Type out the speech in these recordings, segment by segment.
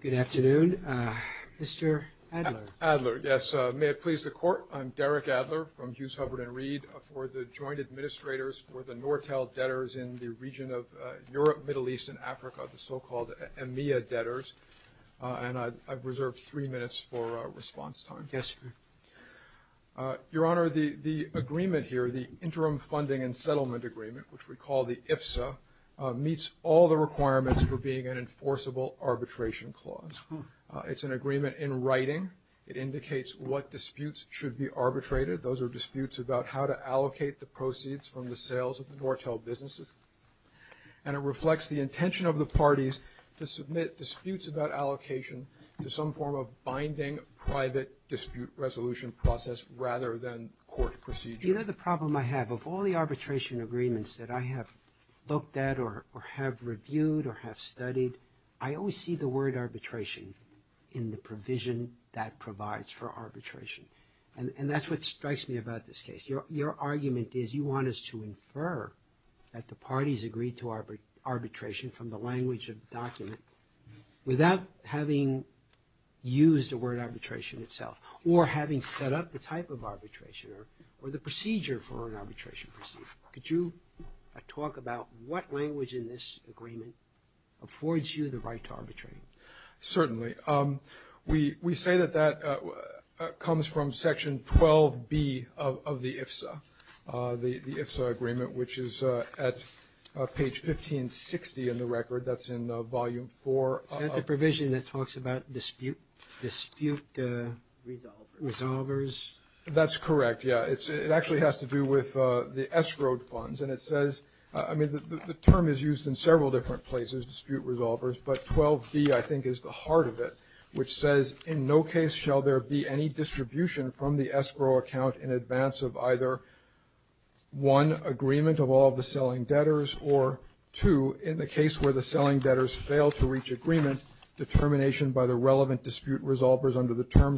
Good afternoon. Mr. Adler. Adler, yes. May it please the Court, I'm Derek Adler from Hughes, Hubbard & Reed for the Joint Administrators for the Nortel debtors in the region of Europe, Middle East and Africa, the so-called EMEA debtors, and I've reserved three minutes for response time. Your Honor, the agreement here, the agreements for being an enforceable arbitration clause. It's an agreement in writing. It indicates what disputes should be arbitrated. Those are disputes about how to allocate the proceeds from the sales of the Nortel businesses. And it reflects the intention of the parties to submit disputes about allocation to some form of binding private dispute resolution process rather than court procedure. You know the problem I have with all the arbitration agreements that I have looked at or have reviewed or have studied, I always see the word arbitration in the provision that provides for arbitration. And that's what strikes me about this case. Your argument is you want us to infer that the parties agreed to arbitration from the language of the document without having used the word arbitration itself or having set up the type of arbitration or the procedure for an arbitration procedure. Could you talk about what language in this agreement affords you the right to arbitrate? Certainly. We say that that comes from section 12B of the IFSA, the IFSA agreement, which is at page 1560 in the record. That's in dispute resolvers? That's correct, yeah. It actually has to do with the escrowed funds. And it says, I mean the term is used in several different places, dispute resolvers, but 12B I think is the heart of it, which says in no case shall there be any distribution from the escrow account in advance of either one, agreement of all of the selling debtors, or two, in the case where the terms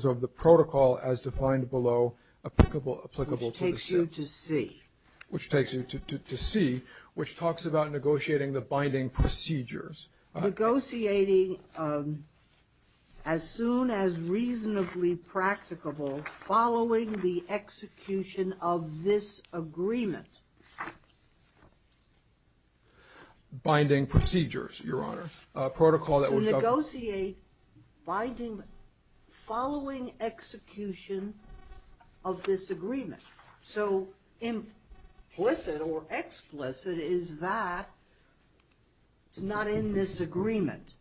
of the protocol as defined below applicable to the state. Which takes you to C. Which takes you to C, which talks about negotiating the binding procedures. Negotiating as soon as reasonably practicable following the execution of this agreement. Binding procedures, Your Honor. So negotiate following execution of this agreement. So implicit or explicit is that it's not in this agreement.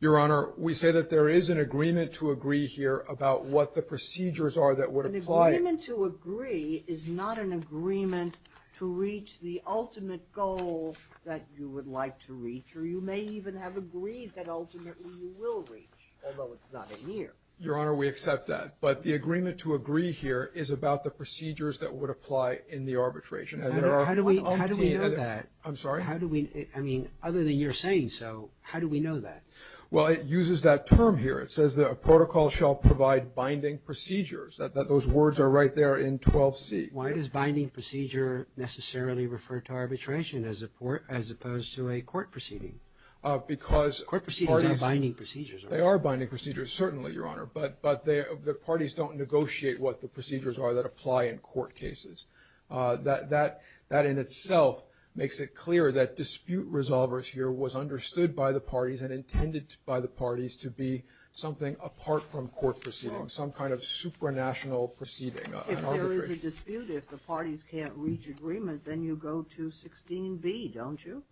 Your Honor, we say that there is an agreement to agree here about what the procedures are that would apply. An agreement to agree is not an agreement to reach the ultimate goal that you would like to reach, or you may even have agreed that ultimately you will reach, although it's not in here. Your Honor, we accept that. But the agreement to agree here is about the procedures that would apply in the arbitration. How do we know that? I'm sorry? I mean, other than you're saying so, how do we know that? Well, it uses that term here. It says that a protocol shall provide binding procedures, that those words are right there in 12C. Why does binding procedure necessarily refer to arbitration as opposed to a court proceeding? Court proceedings are binding procedures. They are binding procedures, certainly, Your Honor. But the parties don't negotiate what the procedures are that apply in court cases. That in itself makes it clear that dispute resolvers here was understood by the parties and intended by the parties to be something apart from court proceedings, some kind of supranational proceeding. If there is a dispute, if the parties can't reach agreement, then you go to 16B, don't you?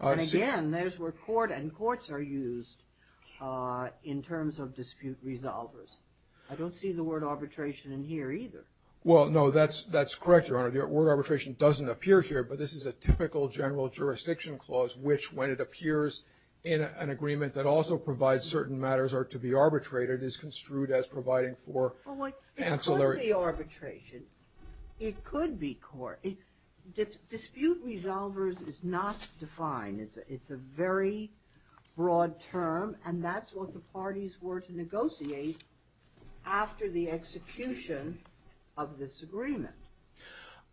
And again, there's where court and courts are used in terms of dispute resolvers. I don't see the word arbitration in here either. Well, no, that's correct, Your Honor. The word arbitration doesn't appear here, but this is a typical general jurisdiction clause which, when it appears in an agreement that also provides certain matters or to be arbitrated, is construed as providing for ancillary. Well, it could be arbitration. It could be court. Dispute resolvers is not defined. It's a very broad term, and that's what the parties were to negotiate after the execution of this agreement.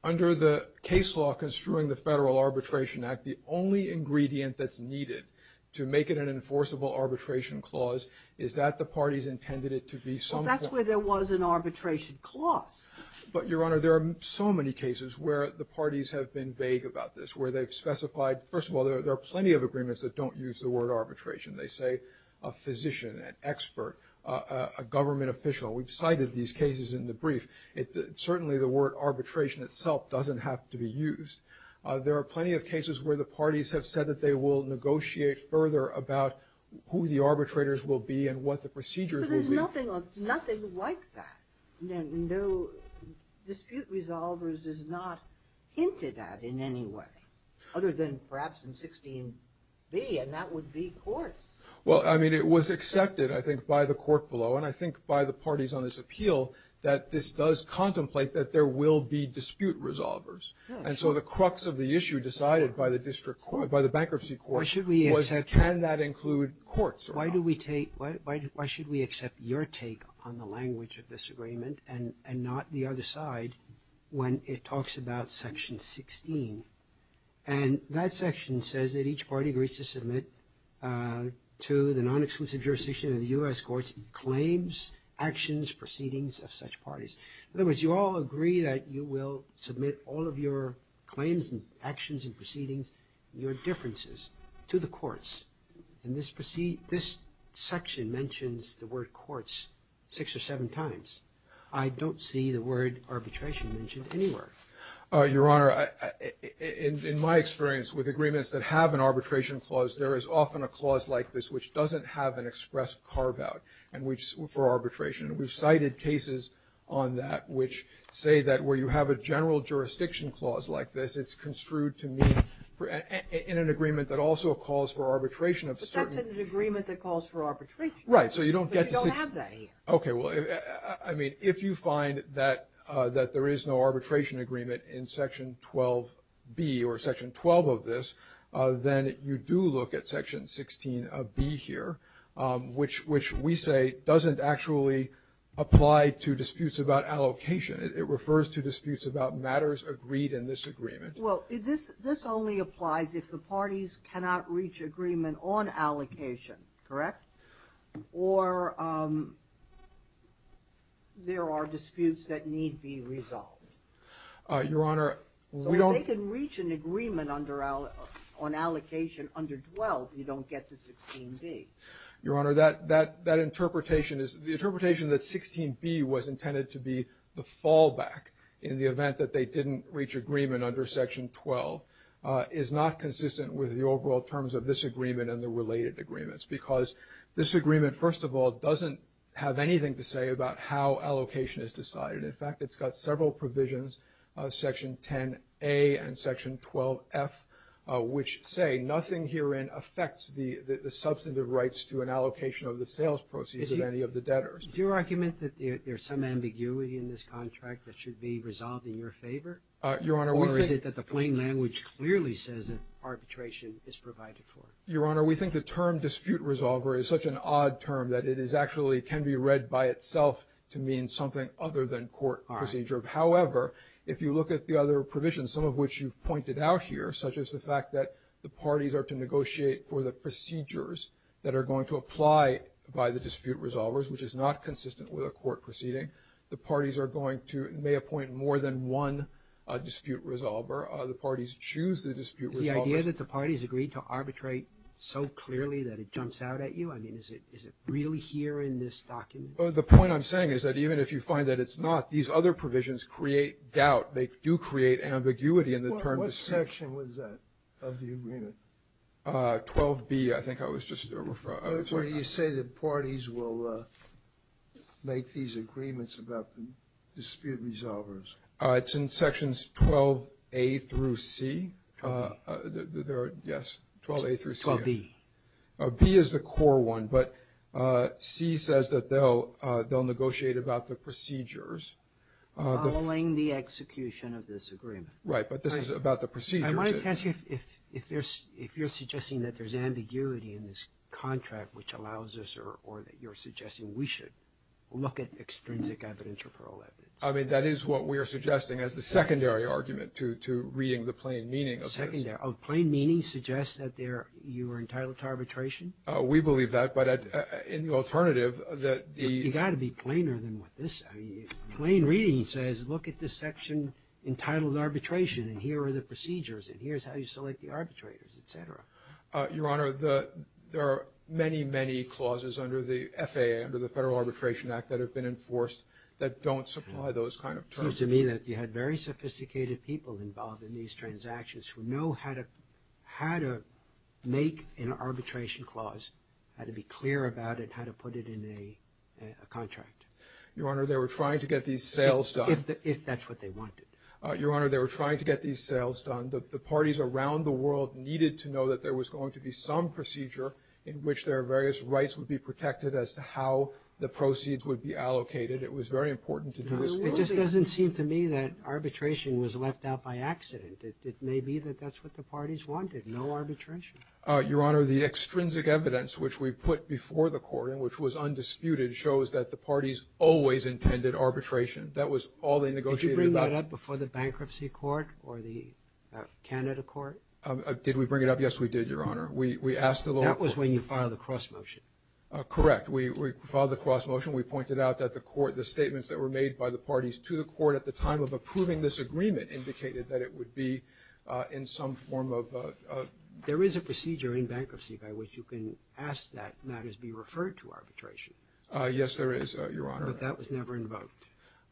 Under the case law construing the Federal Arbitration Act, the only ingredient that's needed to make it an enforceable arbitration clause is that the parties intended it to be some form of arbitration. Well, that's where there was an arbitration clause. But, Your Honor, there are so many cases where the parties have been vague about this, where they've specified, first of all, there are plenty of agreements that don't use the word arbitration. They say a physician, an expert, a government official. We've cited these cases in the brief. Certainly the word arbitration itself doesn't have to be used. There are plenty of cases where the parties have said that they will negotiate further about who the arbitrators will be and what the procedures will be. But there's nothing like that. No dispute resolvers is not hinted at in any way, other than perhaps in 16b, and that would be courts. Well, I mean, it was accepted, I think, by the court below, and I think by the parties on this appeal, that this does contemplate that there will be dispute resolvers. And so the crux of the issue decided by the district court, by the bankruptcy court, was can that include courts or not? Why do we take – why should we accept your take on the language of this agreement and not the other side when it talks about Section 16? And that section says that each party agrees to submit to the non-exclusive jurisdiction of the U.S. courts claims, actions, proceedings of such parties. In other words, you all agree that you will submit all of your claims and actions and proceedings, your differences, to the courts. And this section mentions the word courts six or seven times. I don't see the word arbitration mentioned anywhere. Your Honor, in my experience with agreements that have an arbitration clause, there is often a clause like this which doesn't have an express carve-out for arbitration. We've cited cases on that which say that where you have a general jurisdiction clause like this, it's construed to mean in an agreement that also calls for arbitration of certain – But that's an agreement that calls for arbitration. Right. So you don't get to – But you don't have that here. Okay. Well, I mean, if you find that there is no arbitration agreement in Section 12B or Section 12 of this, then you do look at Section 16B here, which we say doesn't actually apply to disputes about allocation. It refers to disputes about matters agreed in this agreement. Well, this only applies if the parties cannot reach agreement on allocation, correct? Or there are disputes that need be resolved. Your Honor, we don't – So if they can reach an agreement on allocation under 12, you don't get to 16B. Your Honor, that interpretation is – the interpretation that 16B was intended to be the fallback in the event that they didn't reach agreement under Section 12 is not consistent with the overall terms of this agreement and the related agreements, because this agreement, first of all, doesn't have anything to say about how allocation is decided. In fact, it's got several provisions, Section 10A and Section 12F, which say nothing herein affects the substantive rights to an allocation of the sales proceeds of any of the debtors. Is your argument that there's some ambiguity in this contract that should be resolved in your favor? Your Honor, we think – Or is it that the plain language clearly says that arbitration is provided for? Your Honor, we think the term dispute resolver is such an odd term that it is actually can be read by itself to mean something other than court procedure. All right. However, if you look at the other provisions, some of which you've pointed out here, such as the fact that the parties are to negotiate for the procedures that are going to apply by the dispute resolvers, which is not consistent with a court proceeding, the parties are going to may appoint more than one dispute resolver. The parties choose the dispute resolvers. Is the idea that the parties agreed to arbitrate so clearly that it jumps out at you? I mean, is it really here in this document? The point I'm saying is that even if you find that it's not, these other provisions create doubt. They do create ambiguity in the terms of – What section was that of the agreement? 12B, I think I was just – Where do you say the parties will make these agreements about the dispute resolvers? It's in sections 12A through C. 12B. Yes, 12A through C. 12B. B is the core one, but C says that they'll negotiate about the procedures. Following the execution of this agreement. Right, but this is about the procedures. I want to ask you if you're suggesting that there's ambiguity in this contract which allows us or that you're suggesting we should look at extrinsic evidence or plural evidence. I mean, that is what we are suggesting as the secondary argument to reading the plain meaning of this. Secondary. Oh, plain meaning suggests that you were entitled to arbitration? We believe that, but in the alternative that the – You've got to be plainer than what this – Plain reading says look at this section entitled arbitration and here are the procedures and here's how you select the arbitrators, et cetera. Your Honor, there are many, many clauses under the FAA, under the Federal Arbitration Act, that have been enforced that don't supply those kind of terms. It seems to me that you had very sophisticated people involved in these transactions who know how to make an arbitration clause, how to be clear about it, how to put it in a contract. Your Honor, they were trying to get these sales done. If that's what they wanted. Your Honor, they were trying to get these sales done. The parties around the world needed to know that there was going to be some procedure in which their various rights would be protected as to how the proceeds would be allocated. It was very important to do this work. It just doesn't seem to me that arbitration was left out by accident. It may be that that's what the parties wanted, no arbitration. Your Honor, the extrinsic evidence which we put before the court and which was undisputed shows that the parties always intended arbitration. That was all they negotiated about. Did you bring that up before the Bankruptcy Court or the Canada Court? Did we bring it up? Yes, we did, Your Honor. We asked the local court. That was when you filed the cross-motion. Correct. We filed the cross-motion. We pointed out that the statements that were made by the parties to the court at the time of approving this agreement indicated that it would be in some form of a There is a procedure in bankruptcy by which you can ask that matters be referred to arbitration. Yes, there is, Your Honor. But that was never invoked.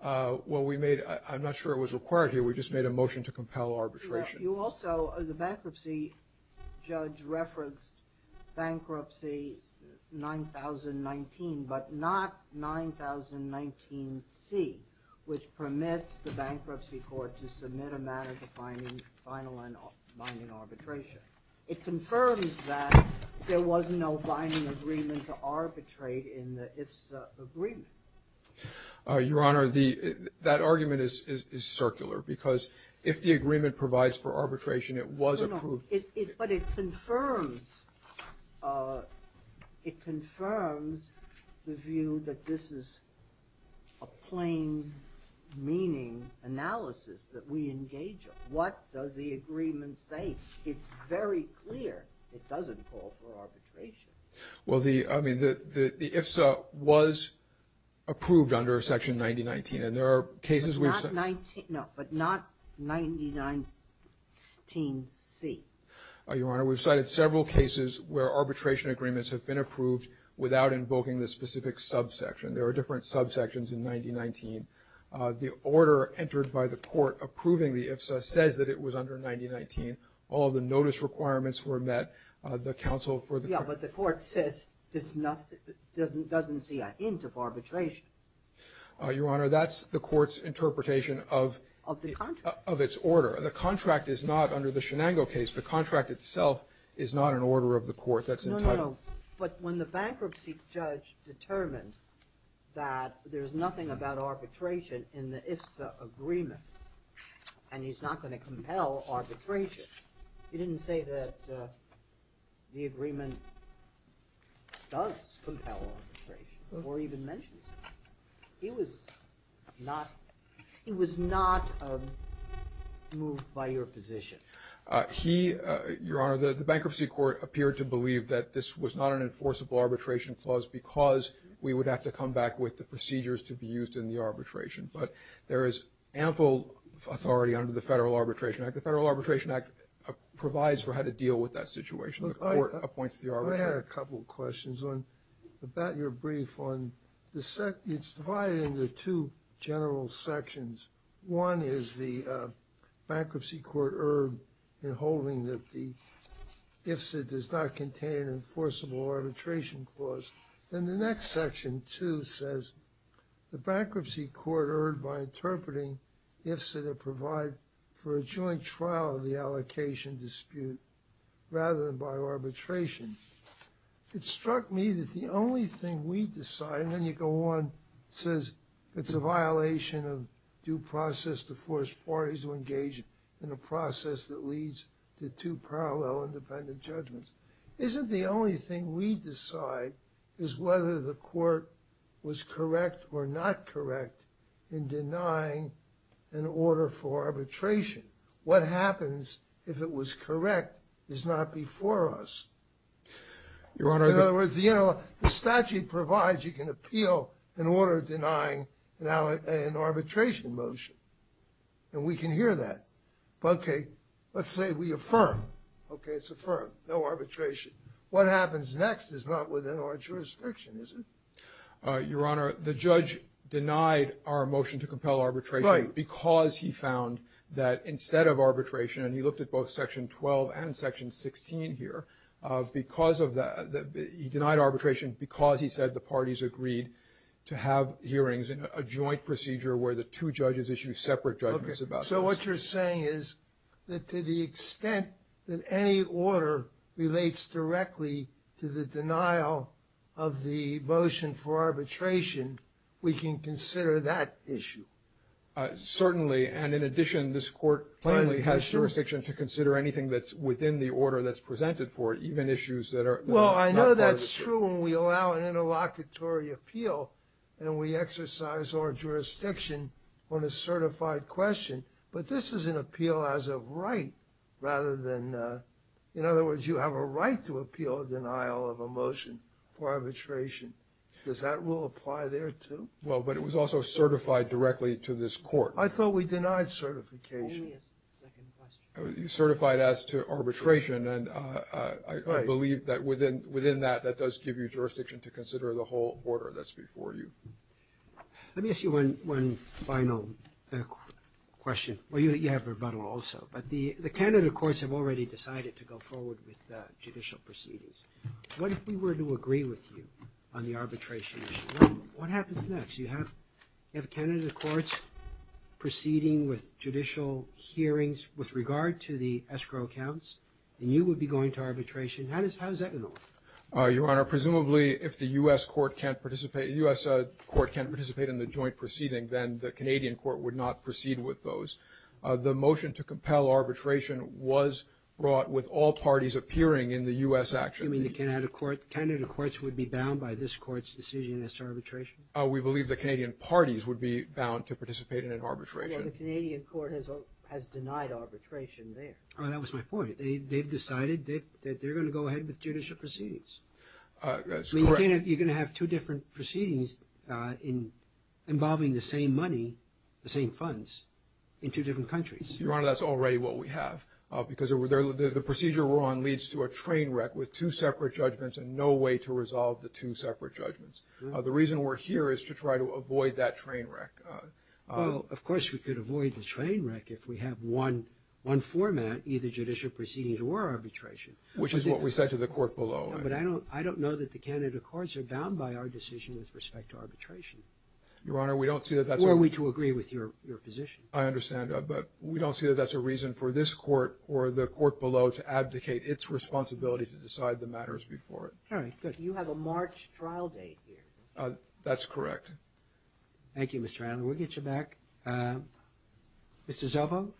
Well, we made – I'm not sure it was required here. We just made a motion to compel arbitration. You also – the bankruptcy judge referenced bankruptcy 9019, but not 9019C, which permits the Bankruptcy Court to submit a matter to final and binding arbitration. It confirms that there was no binding agreement to arbitrate in the IFSA agreement. Your Honor, that argument is circular because if the agreement provides for arbitration, it was approved. But it confirms – it confirms the view that this is a plain-meaning analysis that we engage in. What does the agreement say? It's very clear it doesn't call for arbitration. Well, the – I mean, the IFSA was approved under Section 9019, and there are cases we've – Not 90 – no, but not 9019C. Your Honor, we've cited several cases where arbitration agreements have been approved without invoking the specific subsection. There are different subsections in 9019. The order entered by the court approving the IFSA says that it was under 9019. All of the notice requirements were met. The counsel for the – Yeah, but the court says it's not – doesn't see a hint of arbitration. Your Honor, that's the court's interpretation of – Of the contract. Of its order. The contract is not under the Shenango case. The contract itself is not an order of the court. That's entitled – No, no, no. But when the bankruptcy judge determined that there's nothing about arbitration in the IFSA agreement and he's not going to compel arbitration, he didn't say that the agreement does compel arbitration or even mentions it. He was not – he was not moved by your position. He – Your Honor, the bankruptcy court appeared to believe that this was not an enforceable arbitration clause because we would have to come back with the procedures to be used in the arbitration. But there is ample authority under the Federal Arbitration Act. The Federal Arbitration Act provides for how to deal with that situation. The court appoints the arbitrator. I have a couple of questions on – about your brief on the – it's divided into two general sections. One is the bankruptcy court erred in holding that the IFSA does not contain an enforceable arbitration clause. Then the next section, 2, says the bankruptcy court erred by interpreting IFSA to provide for a joint trial of the allocation dispute rather than by arbitration. It struck me that the only thing we decide, and then you go on, it says it's a violation of due process to force parties to engage in a process that leads to two parallel independent judgments. Isn't the only thing we decide is whether the court was correct or not correct in denying an order for arbitration. What happens if it was correct is not before us. In other words, the statute provides you can appeal an order denying an arbitration motion. And we can hear that. Okay, let's say we affirm. Okay, it's affirmed. No arbitration. What happens next is not within our jurisdiction, is it? Your Honor, the judge denied our motion to compel arbitration because he found that instead of arbitration, and he looked at both section 12 and section 16 here, because of that, he denied arbitration because he said the parties agreed to have hearings in a joint procedure where the two judges issue separate judgments about this. So what you're saying is that to the extent that any order relates directly to the denial of the motion for arbitration, we can consider that issue. Certainly. And in addition, this court plainly has jurisdiction to consider anything that's within the order that's presented for it, even issues that are not part of it. Well, I know that's true when we allow an interlocutory appeal and we exercise our jurisdiction on a certified question. But this is an appeal as of right rather than, in other words, you have a right to appeal or denial of a motion for arbitration. Does that rule apply there, too? Well, but it was also certified directly to this court. I thought we denied certification. Only as to the second question. Certified as to arbitration, and I believe that within that, that does give you jurisdiction to consider the whole order that's before you. Let me ask you one final question. Well, you have a rebuttal also. But the Canada courts have already decided to go forward with judicial proceedings. What if we were to agree with you on the arbitration issue? What happens next? You have Canada courts proceeding with judicial hearings with regard to the escrow counts, and you would be going to arbitration. How is that going to work? Your Honor, presumably if the U.S. court can't participate in the joint proceeding, then the Canadian court would not proceed with those. The motion to compel arbitration was brought with all parties appearing in the U.S. action. You mean the Canada courts would be bound by this court's decision as to arbitration? We believe the Canadian parties would be bound to participate in an arbitration. Well, the Canadian court has denied arbitration there. Oh, that was my point. They've decided that they're going to go ahead with judicial proceedings. That's correct. You're going to have two different proceedings involving the same money, the same funds, in two different countries. Your Honor, that's already what we have, because the procedure we're on leads to a train wreck with two separate judgments and no way to resolve the two separate judgments. The reason we're here is to try to avoid that train wreck. Well, of course we could avoid the train wreck if we have one format, either judicial proceedings or arbitration. Which is what we said to the court below. But I don't know that the Canada courts are bound by our decision with respect to arbitration. Your Honor, we don't see that that's a... Or are we to agree with your position? I understand, but we don't see that that's a reason for this court or the court below to abdicate its responsibility to decide the matters before it. All right, good. You have a March trial date here. That's correct. Thank you, Mr. Allen. We'll get you back. Mr. Szabo?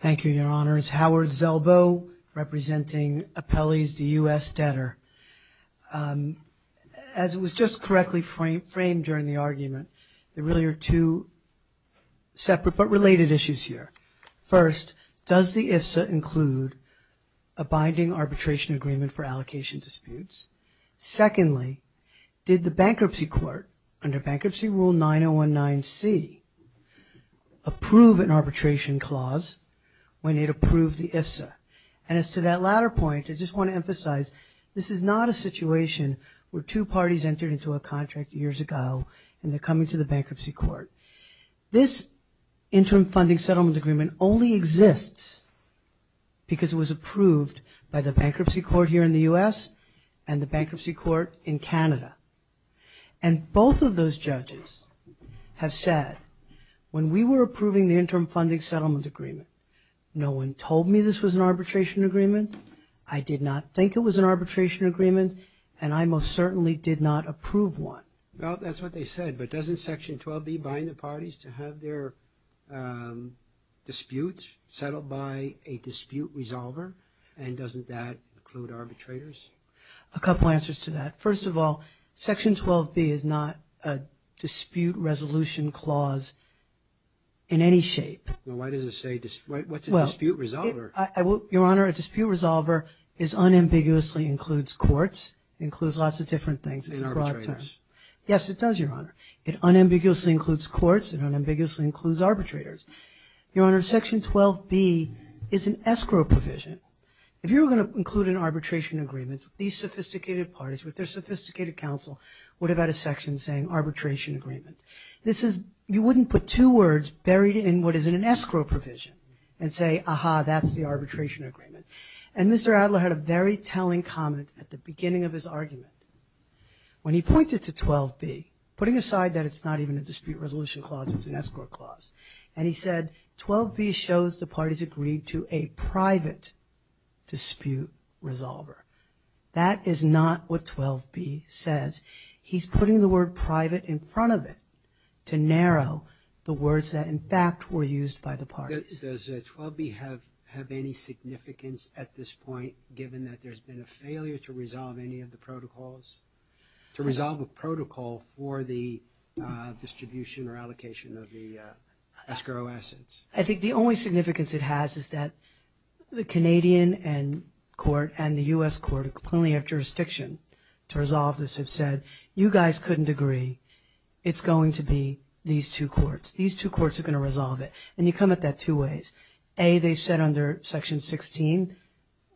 Thank you, Your Honors. Howard Szabo, representing appellees to U.S. debtor. As was just correctly framed during the argument, there really are two separate but related issues here. First, does the IFSA include a binding arbitration agreement for allocation disputes? Secondly, did the Bankruptcy Court, under Bankruptcy Rule 9019C, approve an arbitration clause when it approved the IFSA? And as to that latter point, I just want to emphasize, this is not a situation where two parties entered into a contract years ago and they're coming to the Bankruptcy Court. This Interim Funding Settlement Agreement only exists because it was approved by the Bankruptcy Court here in the U.S. and the Bankruptcy Court in Canada. And both of those judges have said, when we were approving the Interim Funding Settlement Agreement, no one told me this was an arbitration agreement, I did not think it was an arbitration agreement, and I most certainly did not approve one. Well, that's what they said, but doesn't Section 12B bind the parties to have their disputes settled by a dispute resolver, and doesn't that include arbitrators? A couple answers to that. First of all, Section 12B is not a dispute resolution clause in any shape. Well, why does it say – what's a dispute resolver? Your Honor, a dispute resolver unambiguously includes courts, includes lots of different things. It's a broad term. In arbitrators. Yes, it does, Your Honor. It unambiguously includes courts and unambiguously includes arbitrators. Your Honor, Section 12B is an escrow provision. If you were going to include an arbitration agreement, these sophisticated parties with their sophisticated counsel would have had a section saying arbitration agreement. This is – you wouldn't put two words buried in what is an escrow provision and say, aha, that's the arbitration agreement. And Mr. Adler had a very telling comment at the beginning of his argument when he pointed to 12B, putting aside that it's not even a dispute resolution clause, it's an escrow clause, and he said, 12B shows the parties agreed to a private dispute resolver. That is not what 12B says. He's putting the word private in front of it to narrow the words that, in fact, were used by the parties. Does 12B have any significance at this point, given that there's been a failure to resolve any of the protocols, to resolve a protocol for the distribution or allocation of the escrow assets? I think the only significance it has is that the Canadian court and the U.S. court, who only have jurisdiction to resolve this, have said, you guys couldn't agree. It's going to be these two courts. These two courts are going to resolve it. And you come at that two ways. A, they said under Section 16,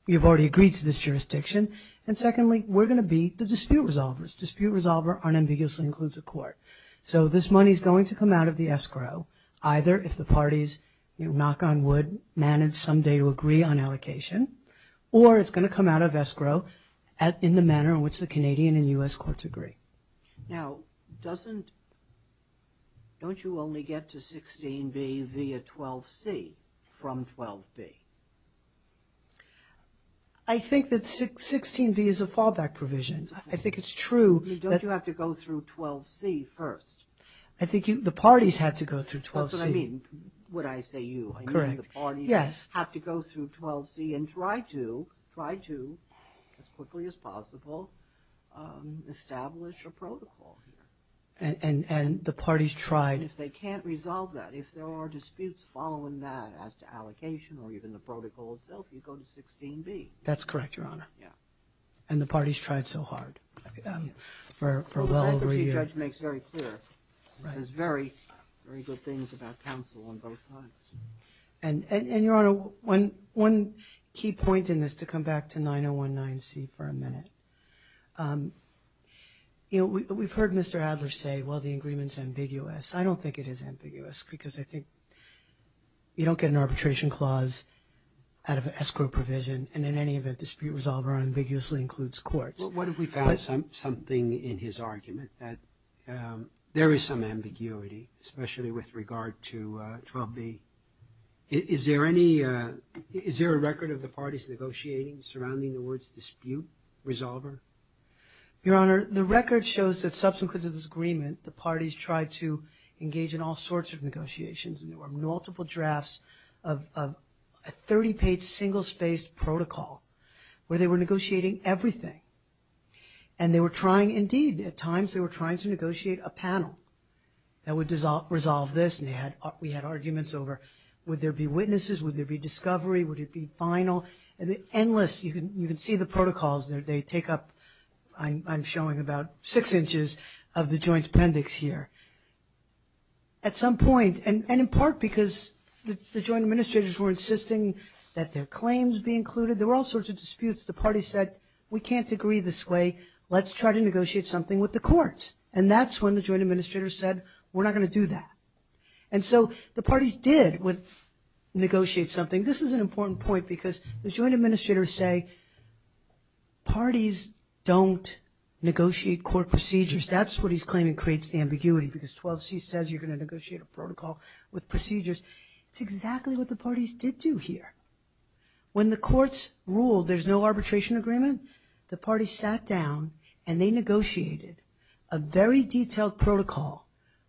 you've already agreed to this jurisdiction. And secondly, we're going to be the dispute resolvers. Dispute resolver unambiguously includes a court. So this money is going to come out of the escrow, either if the parties, knock on wood, manage someday to agree on allocation, or it's going to come out of escrow in the manner in which the Canadian and U.S. courts agree. Now, doesn't, don't you only get to 16b via 12c from 12b? I think that 16b is a fallback provision. I think it's true. Don't you have to go through 12c first? I think the parties had to go through 12c. That's what I mean when I say you. I mean the parties have to go through 12c and try to, as quickly as possible, establish a protocol here. And the parties tried. And if they can't resolve that, if there are disputes following that, as to allocation or even the protocol itself, you go to 16b. That's correct, Your Honor. Yeah. And the parties tried so hard for well over a year. The bankruptcy judge makes very clear. He says very, very good things about counsel on both sides. And, Your Honor, one key point in this, to come back to 9019c for a minute. You know, we've heard Mr. Adler say, well, the agreement's ambiguous. I don't think it is ambiguous because I think you don't get an arbitration clause out of an escrow provision, and in any event, dispute resolver unambiguously includes courts. What if we found something in his argument that there is some ambiguity, especially with regard to 12b? Is there any – is there a record of the parties negotiating surrounding the words dispute resolver? Your Honor, the record shows that subsequent to this agreement, the parties tried to engage in all sorts of negotiations, and there were multiple drafts of a 30-page single-spaced protocol where they were negotiating everything. And they were trying, indeed, at times they were trying to negotiate a panel that would resolve this, and we had arguments over would there be witnesses, would there be discovery, would it be final? Endless – you can see the protocols. They take up – I'm showing about six inches of the Joint Appendix here. At some point, and in part because the Joint Administrators were insisting that their claims be included, there were all sorts of disputes. The parties said, we can't agree this way. Let's try to negotiate something with the courts. And that's when the Joint Administrators said, we're not going to do that. And so the parties did negotiate something. This is an important point because the Joint Administrators say, parties don't negotiate court procedures. That's what he's claiming creates the ambiguity, because 12c says you're going to negotiate a protocol with procedures. It's exactly what the parties did do here. When the courts ruled there's no arbitration agreement, the parties sat down and they negotiated a very detailed protocol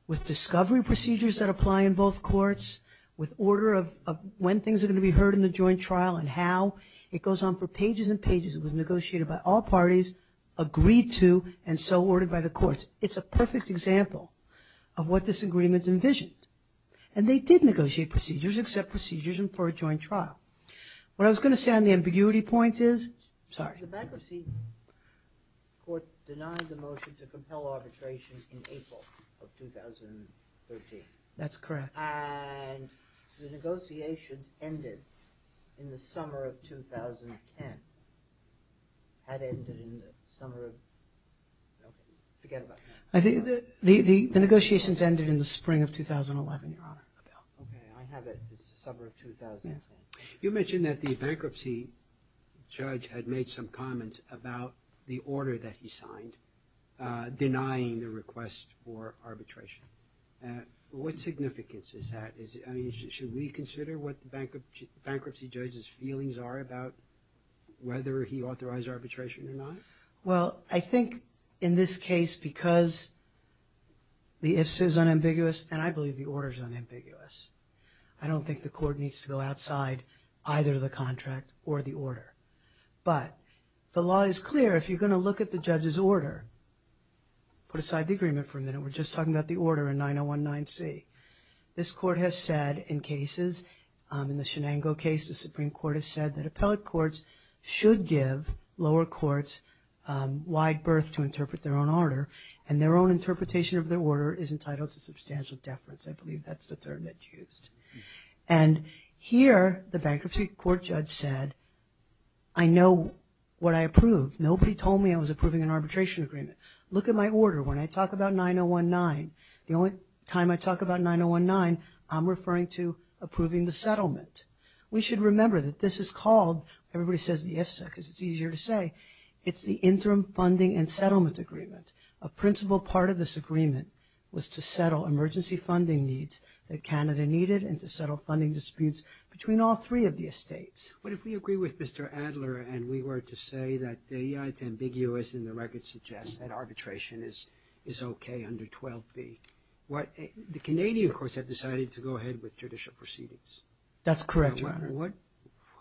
with discovery procedures that apply in both courts, with order of when things are going to be heard in the joint trial and how. It goes on for pages and pages. It was negotiated by all parties, agreed to, and so ordered by the courts. It's a perfect example of what this agreement envisioned. And they did negotiate procedures, except procedures for a joint trial. What I was going to say on the ambiguity point is – sorry. The bankruptcy court denied the motion to compel arbitration in April of 2013. That's correct. And the negotiations ended in the summer of 2010. Had ended in the summer of – okay, forget about that. The negotiations ended in the spring of 2011, Your Honor. Okay, I have it. It's the summer of 2010. You mentioned that the bankruptcy judge had made some comments about the order that he signed denying the request for arbitration. What significance is that? I mean, should we consider what the bankruptcy judge's feelings are about whether he authorized arbitration or not? Well, I think in this case, because the if-so is unambiguous, and I believe the order is unambiguous, I don't think the court needs to go outside either the contract or the order. But the law is clear. If you're going to look at the judge's order – put aside the agreement for a minute. We're just talking about the order in 9019C. This court has said in cases, in the Shenango case, the Supreme Court has said that appellate courts should give lower courts wide berth to interpret their own order, and their own interpretation of their order is entitled to substantial deference. I believe that's the term that's used. And here, the bankruptcy court judge said, I know what I approve. Nobody told me I was approving an arbitration agreement. Look at my order. When I talk about 9019, the only time I talk about 9019, I'm referring to approving the settlement. We should remember that this is called – everybody says the if-so because it's easier to say. It's the Interim Funding and Settlement Agreement. A principal part of this agreement was to settle emergency funding needs that Canada needed and to settle funding disputes between all three of the estates. But if we agree with Mr. Adler and we were to say that, yeah, it's ambiguous and the record suggests that arbitration is okay under 12B, the Canadian courts have decided to go ahead with judicial proceedings. That's correct, Your Honor.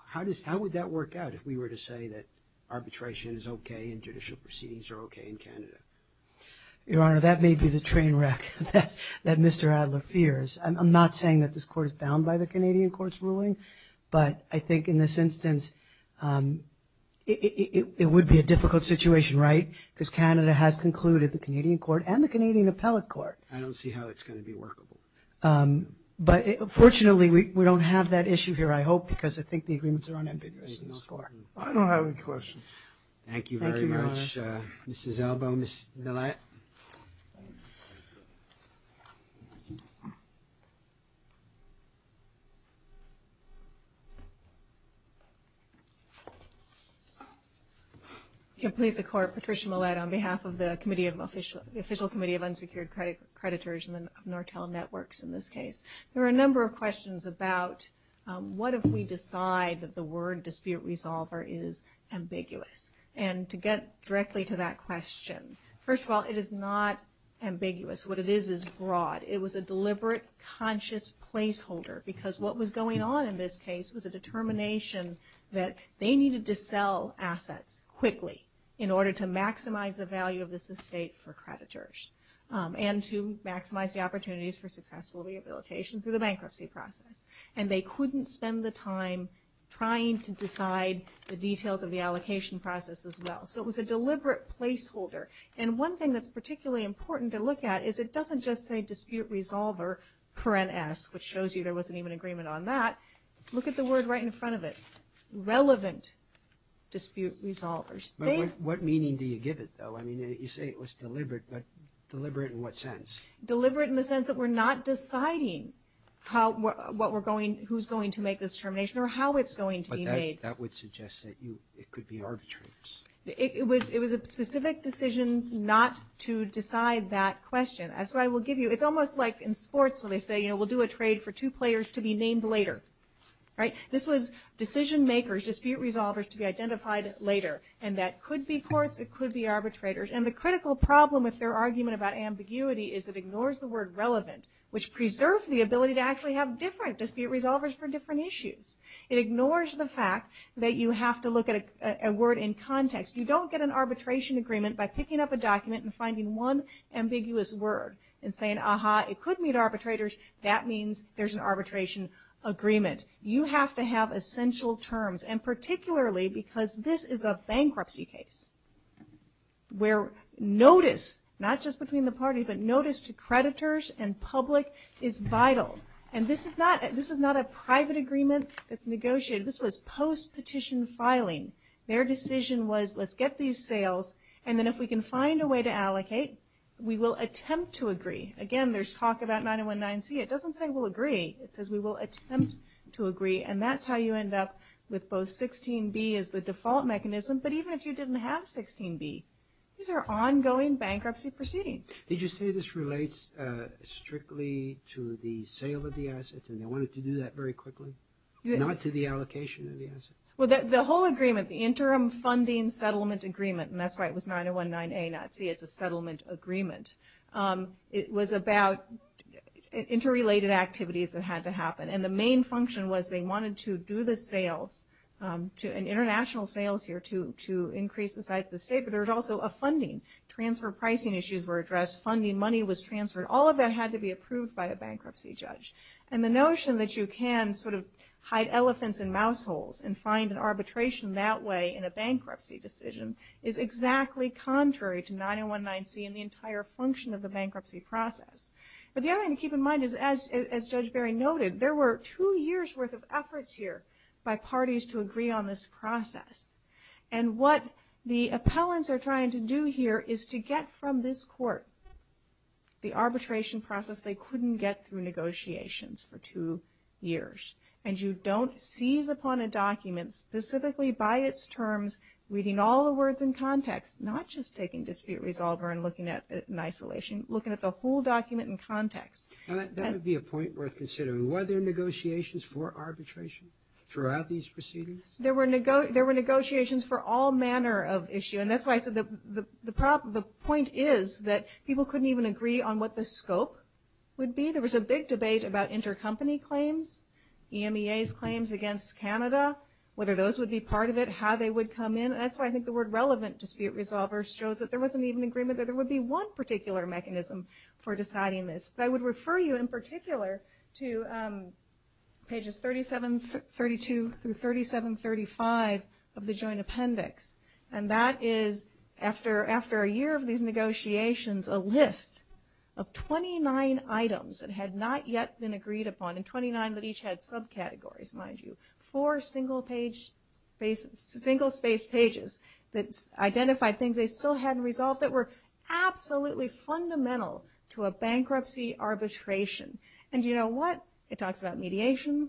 How would that work out if we were to say that arbitration is okay and judicial proceedings are okay in Canada? Your Honor, that may be the train wreck that Mr. Adler fears. I'm not saying that this court is bound by the Canadian court's ruling, but I think in this instance it would be a difficult situation, right, because Canada has concluded the Canadian court and the Canadian appellate court. I don't see how it's going to be workable. But fortunately, we don't have that issue here, I hope, because I think the agreements are unambiguous in the score. I don't have any questions. Thank you very much. Thank you, Your Honor. Mrs. Elbow, Ms. Millett. Please support Patricia Millett on behalf of the Official Committee of Unsecured Creditors and the Nortel Networks in this case. There are a number of questions about what if we decide that the word dispute resolver is ambiguous. And to get directly to that question, first of all, it is not ambiguous. What it is is broad. It was a deliberate, conscious placeholder, because what was going on in this case was a determination that they needed to sell assets quickly in order to maximize the value of this estate for creditors and to maximize the opportunities for successful rehabilitation through the bankruptcy process. And they couldn't spend the time trying to decide the details of the allocation process as well. So it was a deliberate placeholder. And one thing that's particularly important to look at is it doesn't just say dispute resolver, which shows you there wasn't even an agreement on that. Look at the word right in front of it, relevant dispute resolvers. What meaning do you give it, though? I mean, you say it was deliberate, but deliberate in what sense? Deliberate in the sense that we're not deciding who's going to make this determination or how it's going to be made. But that would suggest that it could be arbitrators. It was a specific decision not to decide that question. That's what I will give you. It's almost like in sports when they say, you know, we'll do a trade for two players to be named later, right? This was decision makers, dispute resolvers, to be identified later. And that could be courts. It could be arbitrators. And the critical problem with their argument about ambiguity is it ignores the word relevant, which preserves the ability to actually have different dispute resolvers for different issues. It ignores the fact that you have to look at a word in context. You don't get an arbitration agreement by picking up a document and finding one ambiguous word and saying, aha, it could mean arbitrators. That means there's an arbitration agreement. You have to have essential terms. And particularly because this is a bankruptcy case where notice, not just between the parties, but notice to creditors and public is vital. And this is not a private agreement that's negotiated. This was post-petition filing. Their decision was let's get these sales, and then if we can find a way to allocate, we will attempt to agree. Again, there's talk about 9019C. It doesn't say we'll agree. It says we will attempt to agree. And that's how you end up with both 16B as the default mechanism, but even if you didn't have 16B, these are ongoing bankruptcy proceedings. Did you say this relates strictly to the sale of the assets and they wanted to do that very quickly, not to the allocation of the assets? Well, the whole agreement, the Interim Funding Settlement Agreement, and that's why it was 9019A not C, it's a settlement agreement. It was about interrelated activities that had to happen. And the main function was they wanted to do the sales, international sales here to increase the size of the state, but there was also a funding. Transfer pricing issues were addressed. Funding money was transferred. All of that had to be approved by a bankruptcy judge. And the notion that you can sort of hide elephants in mouse holes and find an arbitration that way in a bankruptcy decision is exactly contrary to 9019C and the entire function of the bankruptcy process. But the other thing to keep in mind is, as Judge Berry noted, there were two years' worth of efforts here by parties to agree on this process. And what the appellants are trying to do here is to get from this court the arbitration process they couldn't get through negotiations for two years. And you don't seize upon a document specifically by its terms, reading all the words in context, not just taking dispute resolver and looking at it in isolation, looking at the whole document in context. That would be a point worth considering. Were there negotiations for arbitration throughout these proceedings? There were negotiations for all manner of issue. And that's why I said the point is that people couldn't even agree on what the scope would be. There was a big debate about intercompany claims, EMEA's claims against Canada, whether those would be part of it, how they would come in. And that's why I think the word relevant dispute resolver shows that there wasn't even agreement that there would be one particular mechanism for deciding this. But I would refer you in particular to pages 3732 through 3735 of the joint appendix. And that is after a year of these negotiations, a list of 29 items that had not yet been agreed upon, and 29 that each had subcategories, mind you. Four single-spaced pages that identified things they still hadn't resolved that were absolutely fundamental to a bankruptcy arbitration. And do you know what? It talks about mediation.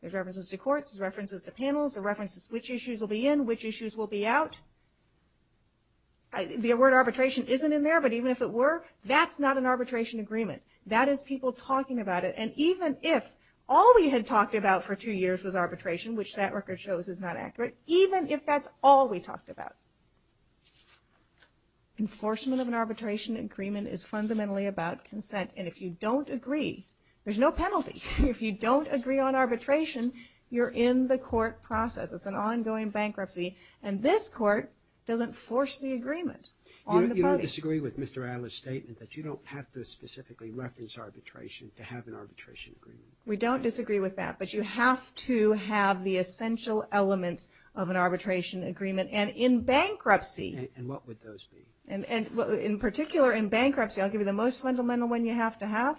There's references to courts. There's references to panels. There's references to which issues will be in, which issues will be out. The word arbitration isn't in there, but even if it were, that's not an arbitration agreement. That is people talking about it. And even if all we had talked about for two years was arbitration, which that record shows is not accurate, even if that's all we talked about, enforcement of an arbitration agreement is fundamentally about consent. And if you don't agree, there's no penalty. If you don't agree on arbitration, you're in the court process. It's an ongoing bankruptcy, and this court doesn't force the agreement on the body. I disagree with Mr. Adler's statement that you don't have to specifically reference arbitration to have an arbitration agreement. We don't disagree with that, but you have to have the essential elements of an arbitration agreement. And in bankruptcy. And what would those be? In particular, in bankruptcy, I'll give you the most fundamental one you have to have,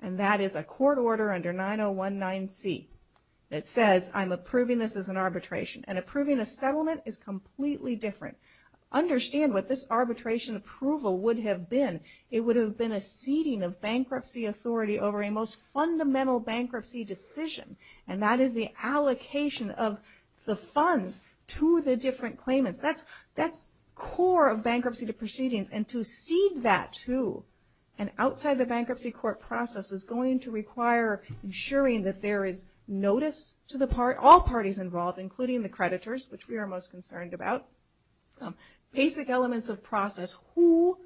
and that is a court order under 9019C that says I'm approving this as an arbitration. And approving a settlement is completely different. Understand what this arbitration approval would have been. It would have been a ceding of bankruptcy authority over a most fundamental bankruptcy decision, and that is the allocation of the funds to the different claimants. That's core of bankruptcy proceedings, and to cede that to an outside-the-bankruptcy-court process is going to require ensuring that there is notice to all parties involved, including the creditors, which we are most concerned about. Basic elements of process. Who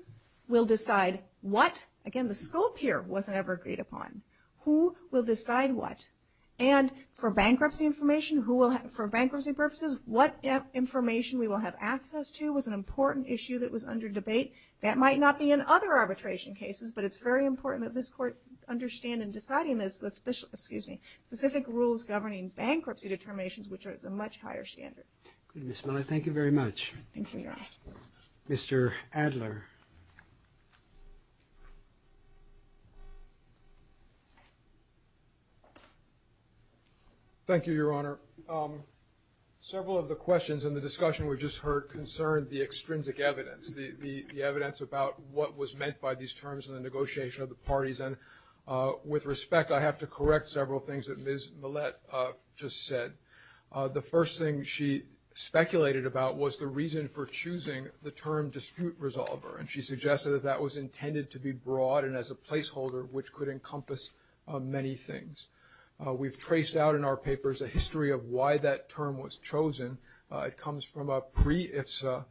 will decide what? Again, the scope here wasn't ever agreed upon. Who will decide what? And for bankruptcy information, for bankruptcy purposes, what information we will have access to was an important issue that was under debate. That might not be in other arbitration cases, but it's very important that this court understand in deciding this, specific rules governing bankruptcy determinations, which is a much higher standard. Good, Ms. Miller. Thank you very much. Thank you, Your Honor. Mr. Adler. Thank you, Your Honor. Several of the questions in the discussion we just heard concerned the extrinsic evidence, the evidence about what was meant by these terms in the negotiation of the parties. And with respect, I have to correct several things that Ms. Millett just said. The first thing she speculated about was the reason for choosing the term dispute resolver, and she suggested that that was intended to be broad and as a placeholder, which could encompass many things. We've traced out in our papers a history of why that term was chosen. It comes from a pre-IFSA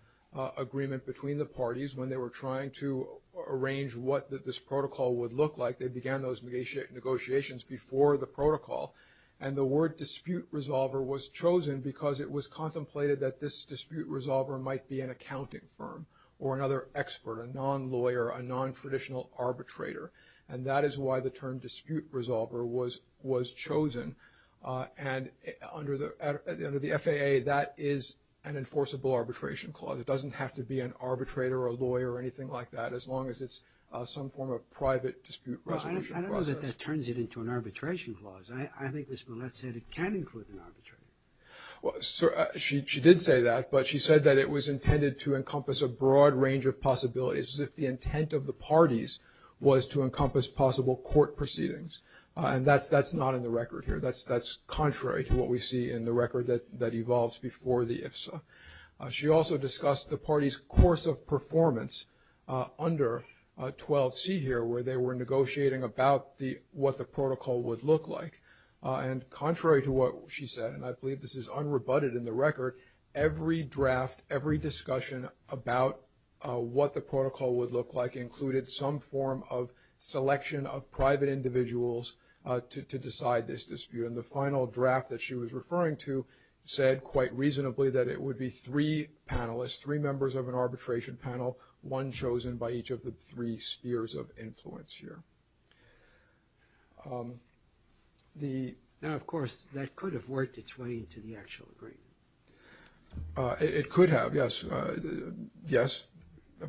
agreement between the parties when they were trying to arrange what this looked like, they began those negotiations before the protocol, and the word dispute resolver was chosen because it was contemplated that this dispute resolver might be an accounting firm or another expert, a non-lawyer, a non-traditional arbitrator. And that is why the term dispute resolver was chosen. And under the FAA, that is an enforceable arbitration clause. It doesn't have to be an arbitrator or a lawyer or anything like that, as long as it's some form of private dispute resolution process. Well, I don't know that that turns it into an arbitration clause. I think Ms. Millett said it can include an arbitrator. She did say that, but she said that it was intended to encompass a broad range of possibilities, as if the intent of the parties was to encompass possible court proceedings. And that's not in the record here. That's contrary to what we see in the record that evolves before the IFSA. She also discussed the party's course of performance under 12C here, where they were negotiating about what the protocol would look like. And contrary to what she said, and I believe this is unrebutted in the record, every draft, every discussion about what the protocol would look like included some form of selection of private individuals to decide this dispute. And the final draft that she was referring to said, quite reasonably, that it would be three panelists, three members of an arbitration panel, one chosen by each of the three spheres of influence here. Now, of course, that could have worked its way into the actual agreement. It could have, yes. Yes,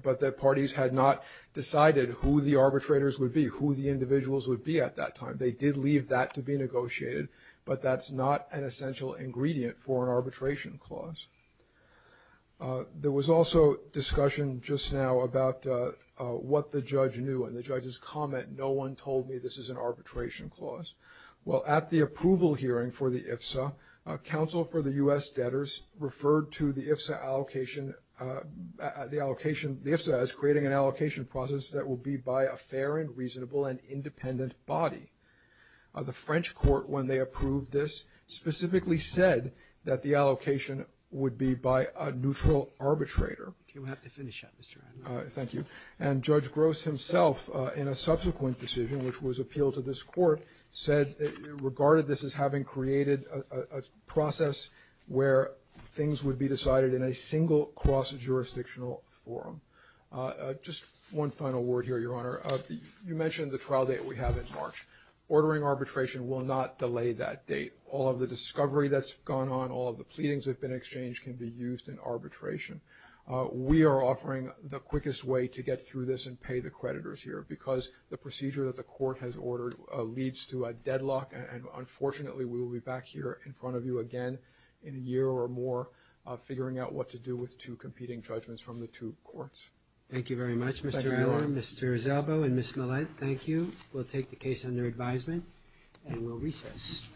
but the parties had not decided who the arbitrators would be, who the individuals would be at that time. They did leave that to be negotiated, but that's not an essential ingredient for an arbitration clause. There was also discussion just now about what the judge knew. In the judge's comment, no one told me this is an arbitration clause. Well, at the approval hearing for the IFSA, counsel for the U.S. debtors referred to the IFSA as creating an allocation process that will be by a fair and reasonable and independent body. The French court, when they approved this, specifically said that the allocation would be by a neutral arbitrator. Okay. We'll have to finish up, Mr. Adler. Thank you. And Judge Gross himself, in a subsequent decision which was appealed to this court, said it regarded this as having created a process where things would be decided in a single cross-jurisdictional forum. Just one final word here, Your Honor. You mentioned the trial date we have in March. Ordering arbitration will not delay that date. All of the discovery that's gone on, all of the pleadings that have been exchanged can be used in arbitration. We are offering the quickest way to get through this and pay the creditors here because the procedure that the court has ordered leads to a deadlock, and unfortunately we will be back here in front of you again in a year or more, figuring out what to do with two competing judgments from the two courts. Thank you very much, Mr. Adler, Mr. Zalbo, and Ms. Millett. Thank you. We'll take the case under advisement and we'll recess. Thank you.